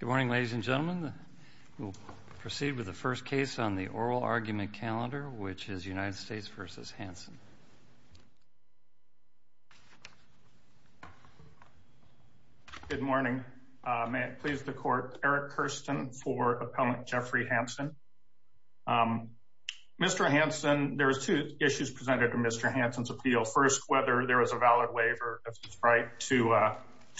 Good morning, ladies and gentlemen. We'll proceed with the first case on the oral argument calendar, which is United States v. Hansen. Good morning. May it please the Court, Eric Kirsten for Appellant Jeffrey Hansen. Mr. Hansen, there are two issues presented in Mr. Hansen's appeal. First, whether there is a valid waiver of his right to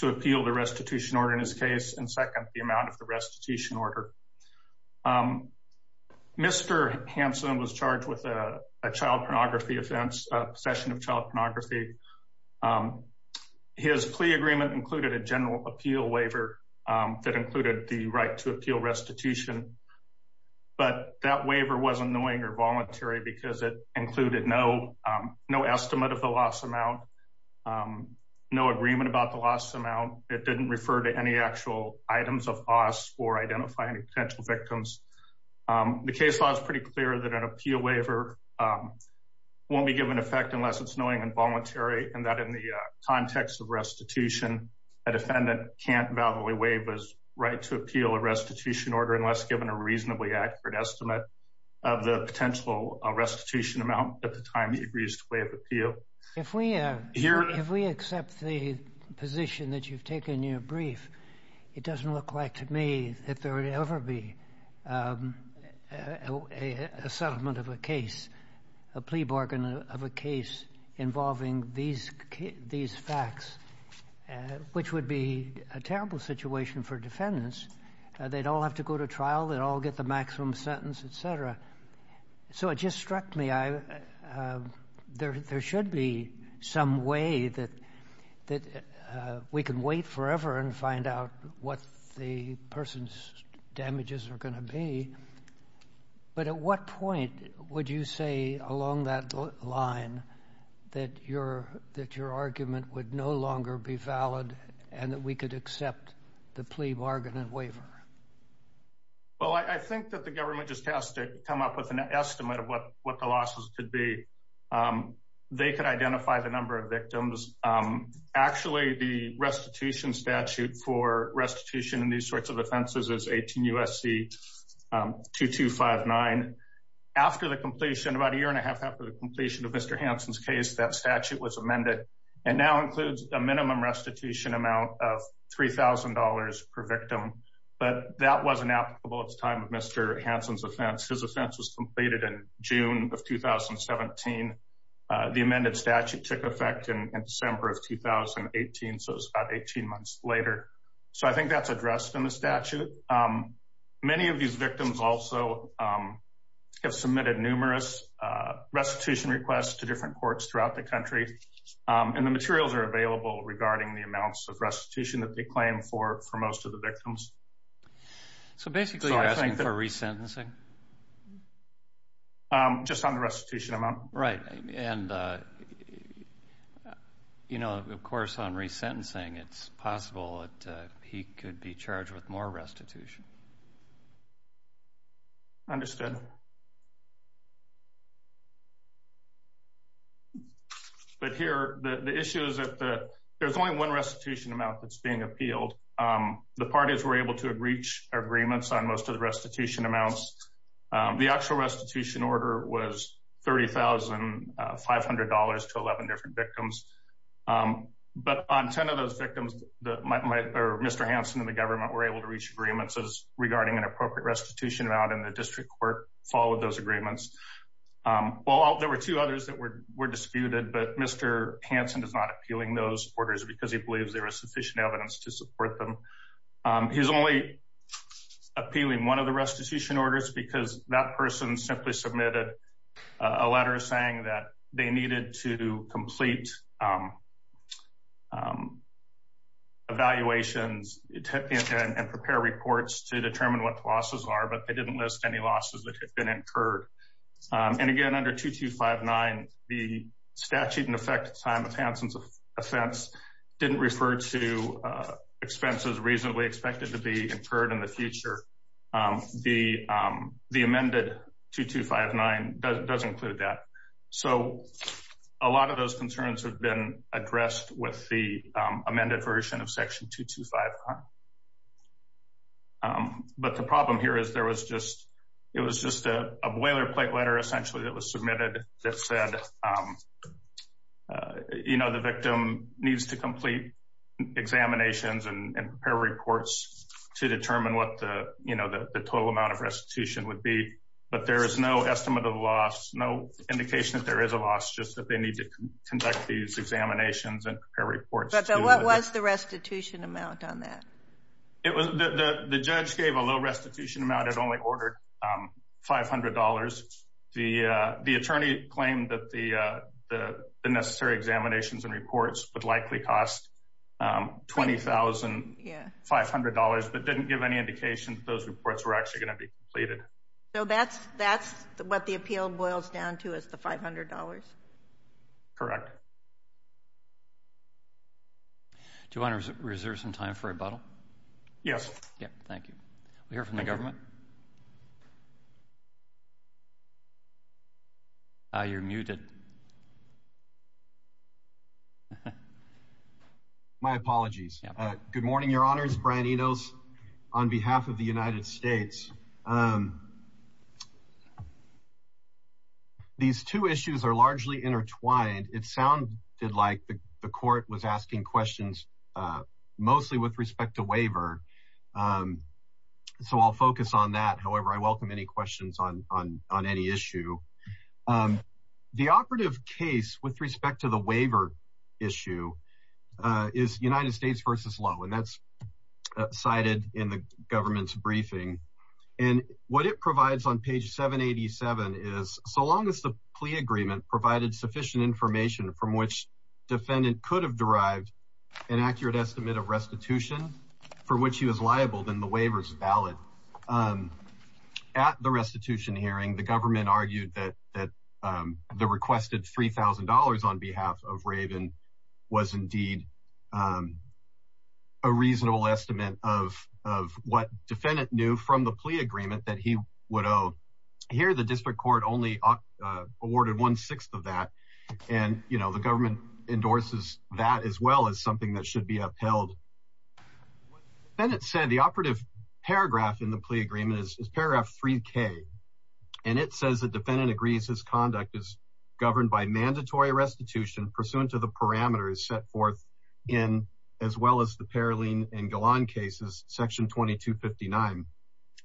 appeal the restitution order in his case, and second, the amount of the restitution order. Mr. Hansen was charged with a child pornography offense, possession of child pornography. His plea agreement included a general appeal waiver that included the right to appeal restitution. But that waiver wasn't knowing or voluntary because it included no estimate of the loss amount, no agreement about the loss amount. It didn't refer to any actual items of costs for identifying potential victims. The case law is pretty clear that an appeal waiver won't be given effect unless it's knowing and voluntary, and that in the context of restitution, a defendant can't validly waive his right to appeal a restitution order unless given a reasonably accurate estimate of the potential restitution amount at the time he agrees to waive appeal. If we accept the position that you've taken in your brief, it doesn't look like to me that there would ever be a settlement of a case, a plea bargain of a case involving these facts, which would be a terrible situation for defendants. They'd all have to go to trial. They'd all get the maximum sentence, et cetera. So it just struck me there should be some way that we can wait forever and find out what the person's damages are going to be. But at what point would you say along that line that your argument would no longer be valid and that we could accept the plea bargain and waiver? Well, I think that the government just has to come up with an estimate of what the losses could be. They could identify the number of victims. Actually, the restitution statute for restitution in these sorts of offenses is 18 USC 2259. After the completion, about a year and a half after the completion of Mr. Hansen's case, that statute was amended and now includes a minimum restitution amount of $3,000 per victim. But that wasn't applicable at the time of Mr. Hansen's offense. His offense was completed in June of 2017. The amended statute took effect in December of 2018. So it's about 18 months later. So I think that's addressed in the statute. Many of these victims also have submitted numerous restitution requests to different courts throughout the country. And the materials are available regarding the amounts of restitution that they claim for most of the victims. So basically you're asking for resentencing? Just on the restitution amount. Right. And, you know, of course, on resentencing, it's possible that he could be charged with more restitution. Understood. But here, the issue is that there's only one restitution amount that's being appealed. The parties were able to reach agreements on most of the restitution amounts. The actual restitution order was $30,500 to 11 different victims. But on 10 of those victims, Mr. Hansen and the government were able to reach agreements regarding an appropriate restitution amount and the district court followed those agreements. Well, there were two others that were disputed, but Mr. Hansen is not appealing those orders because he believes there is sufficient evidence to support them. He's only appealing one of the restitution orders because that person simply submitted a letter saying that they needed to complete evaluations and prepare reports to determine what the losses are, but they didn't list any losses that have been incurred. And again, under 2259, the statute in effect at the time of Hansen's offense didn't refer to expenses reasonably expected to be incurred in the future. The amended 2259 does include that. So a lot of those concerns have been addressed with the amended version of section 225. But the problem here is there was just it was just a boilerplate letter essentially that was submitted that said, you know, the victim needs to complete examinations and prepare reports to determine what the, you know, the total amount of restitution would be. But there is no estimate of loss, no indication that there is a loss, just that they need to conduct these examinations and prepare reports. What was the restitution amount on that? The judge gave a low restitution amount. It only ordered $500. The attorney claimed that the necessary examinations and reports would likely cost $20,500 but didn't give any indication that those reports were actually going to be completed. So that's what the appeal boils down to is the $500? Correct. Do you want to reserve some time for rebuttal? Yes. Thank you. We'll hear from the government. You're muted. My apologies. Good morning, Your Honors. Brian Enos on behalf of the United States. These two issues are largely intertwined. It sounded like the court was asking questions mostly with respect to waiver. So I'll focus on that. However, I welcome any questions on any issue. The operative case with respect to the waiver issue is United States v. Lowe, and that's cited in the government's briefing. And what it provides on page 787 is, so long as the plea agreement provided sufficient information from which defendant could have derived an accurate estimate of restitution for which he was liable, then the waiver is valid. At the restitution hearing, the government argued that the requested $3,000 on behalf of Raven was indeed a reasonable estimate of what defendant knew from the plea agreement that he would owe. Here, the district court only awarded one-sixth of that, and the government endorses that as well as something that should be upheld. What the defendant said, the operative paragraph in the plea agreement is paragraph 3K, and it says the defendant agrees his conduct is governed by mandatory restitution pursuant to the parameters set forth in, as well as the Paroline and Galan cases, section 2259.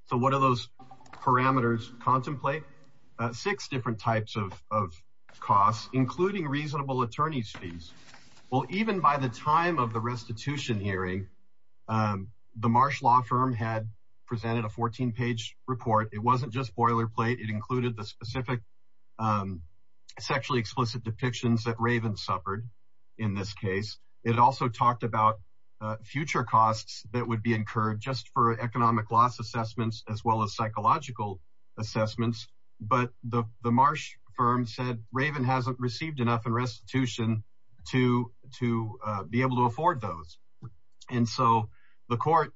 So what are those parameters contemplate? Six different types of costs, including reasonable attorney's fees. Well, even by the time of the restitution hearing, the Marsh Law Firm had presented a 14-page report. It wasn't just boilerplate. It included the specific sexually explicit depictions that Raven suffered in this case. It also talked about future costs that would be incurred just for economic loss assessments, as well as psychological assessments. But the Marsh Firm said Raven hasn't received enough in restitution to be able to afford those. And so the court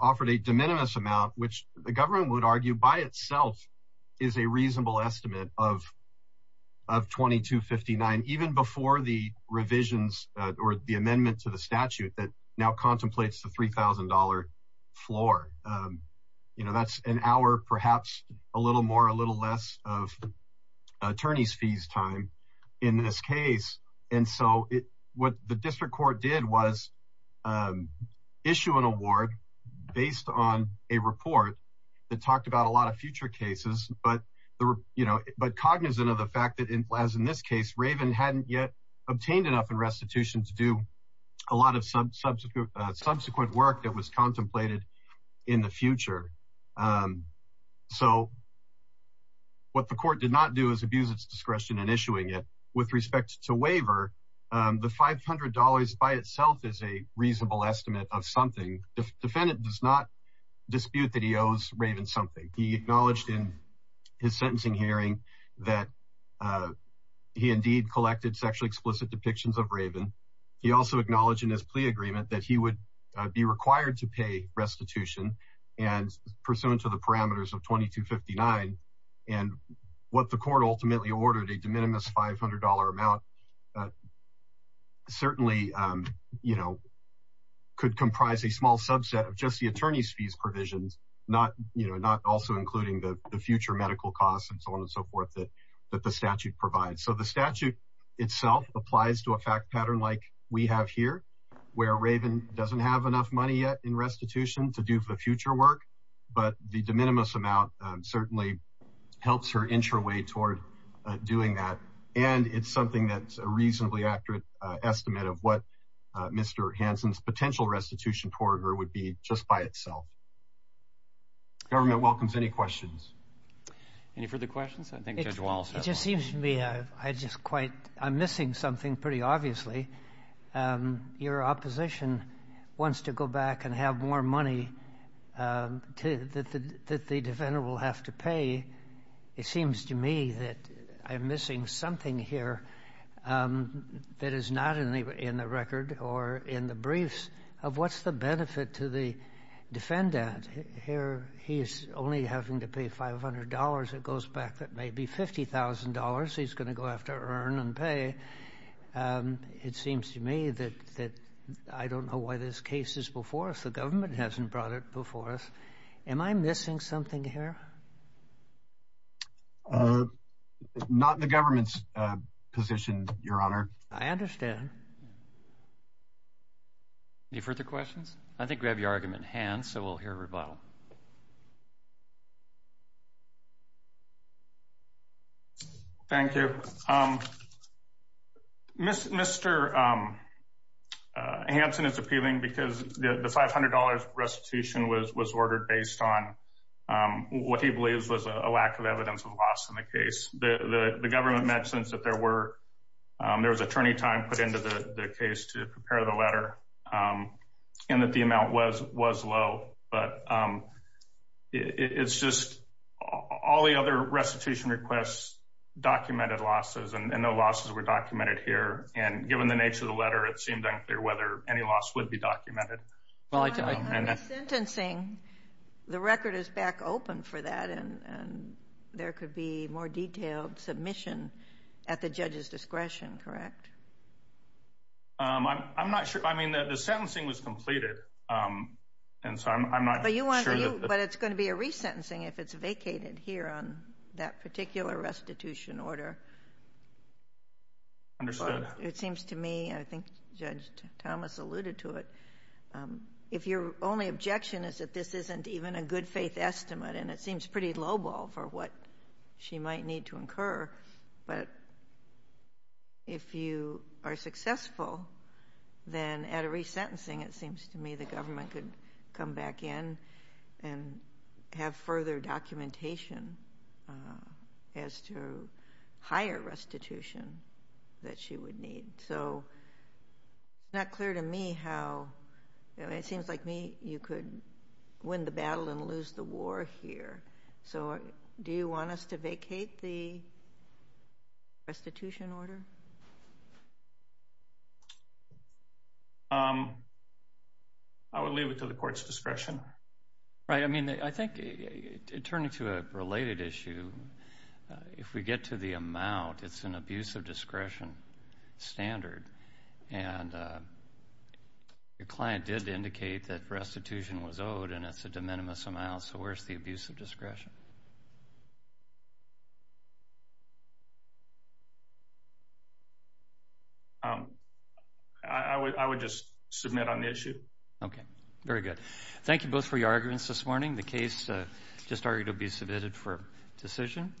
offered a de minimis amount, which the government would argue by itself is a reasonable estimate of 2259, even before the revisions or the amendment to the statute that now contemplates the $3,000 floor. That's an hour, perhaps a little more, a little less of attorney's fees time in this case. And so what the district court did was issue an award based on a report that talked about a lot of future cases, but cognizant of the fact that, as in this case, Raven hadn't yet obtained enough in restitution to do a lot of subsequent work that was contemplated in the future. So what the court did not do is abuse its discretion in issuing it. With respect to waiver, the $500 by itself is a reasonable estimate of something. The defendant does not dispute that he owes Raven something. He acknowledged in his sentencing hearing that he indeed collected sexually explicit depictions of Raven. He also acknowledged in his plea agreement that he would be required to pay restitution and pursuant to the parameters of 2259. And what the court ultimately ordered, a de minimis $500 amount, certainly could comprise a small subset of just the attorney's fees provisions, not also including the future medical costs and so on and so forth that the statute provides. So the statute itself applies to a fact pattern like we have here, where Raven doesn't have enough money yet in restitution to do the future work. But the de minimis amount certainly helps her inch her way toward doing that. And it's something that's a reasonably accurate estimate of what Mr. Hansen's potential restitution toward her would be just by itself. Government welcomes any questions. Any further questions? I think Judge Walsh has one. It just seems to me I'm missing something pretty obviously. Your opposition wants to go back and have more money that the defendant will have to pay. It seems to me that I'm missing something here that is not in the record or in the briefs of what's the benefit to the defendant. Here he's only having to pay $500. It goes back to maybe $50,000 he's going to go have to earn and pay. It seems to me that I don't know why this case is before us. The government hasn't brought it before us. Am I missing something here? Not in the government's position, Your Honor. I understand. Any further questions? I think we have your argument in hand, so we'll hear a rebuttal. Thank you. Mr. Hansen is appealing because the $500 restitution was ordered based on what he believes was a lack of evidence of loss in the case. The government mentions that there was attorney time put into the case to prepare the letter. And that the amount was low. But it's just all the other restitution requests documented losses and no losses were documented here. And given the nature of the letter, it seemed unclear whether any loss would be documented. I'm sentencing. The record is back open for that. And there could be more detailed submission at the judge's discretion, correct? I'm not sure. I mean, the sentencing was completed. And so I'm not sure. But it's going to be a resentencing if it's vacated here on that particular restitution order. Understood. It seems to me, and I think Judge Thomas alluded to it, if your only objection is that this isn't even a good faith estimate. But if you are successful, then at a resentencing, it seems to me the government could come back in and have further documentation as to higher restitution that she would need. So it's not clear to me how you could win the battle and lose the war here. So do you want us to vacate the restitution order? I would leave it to the court's discretion. Right. I mean, I think it turned into a related issue. If we get to the amount, it's an abuse of discretion standard. And your client did indicate that restitution was owed, and it's a de minimis amount. So where's the abuse of discretion? I would just submit on the issue. Okay. Very good. Thank you both for your arguments this morning. The case just argued to be submitted for decision.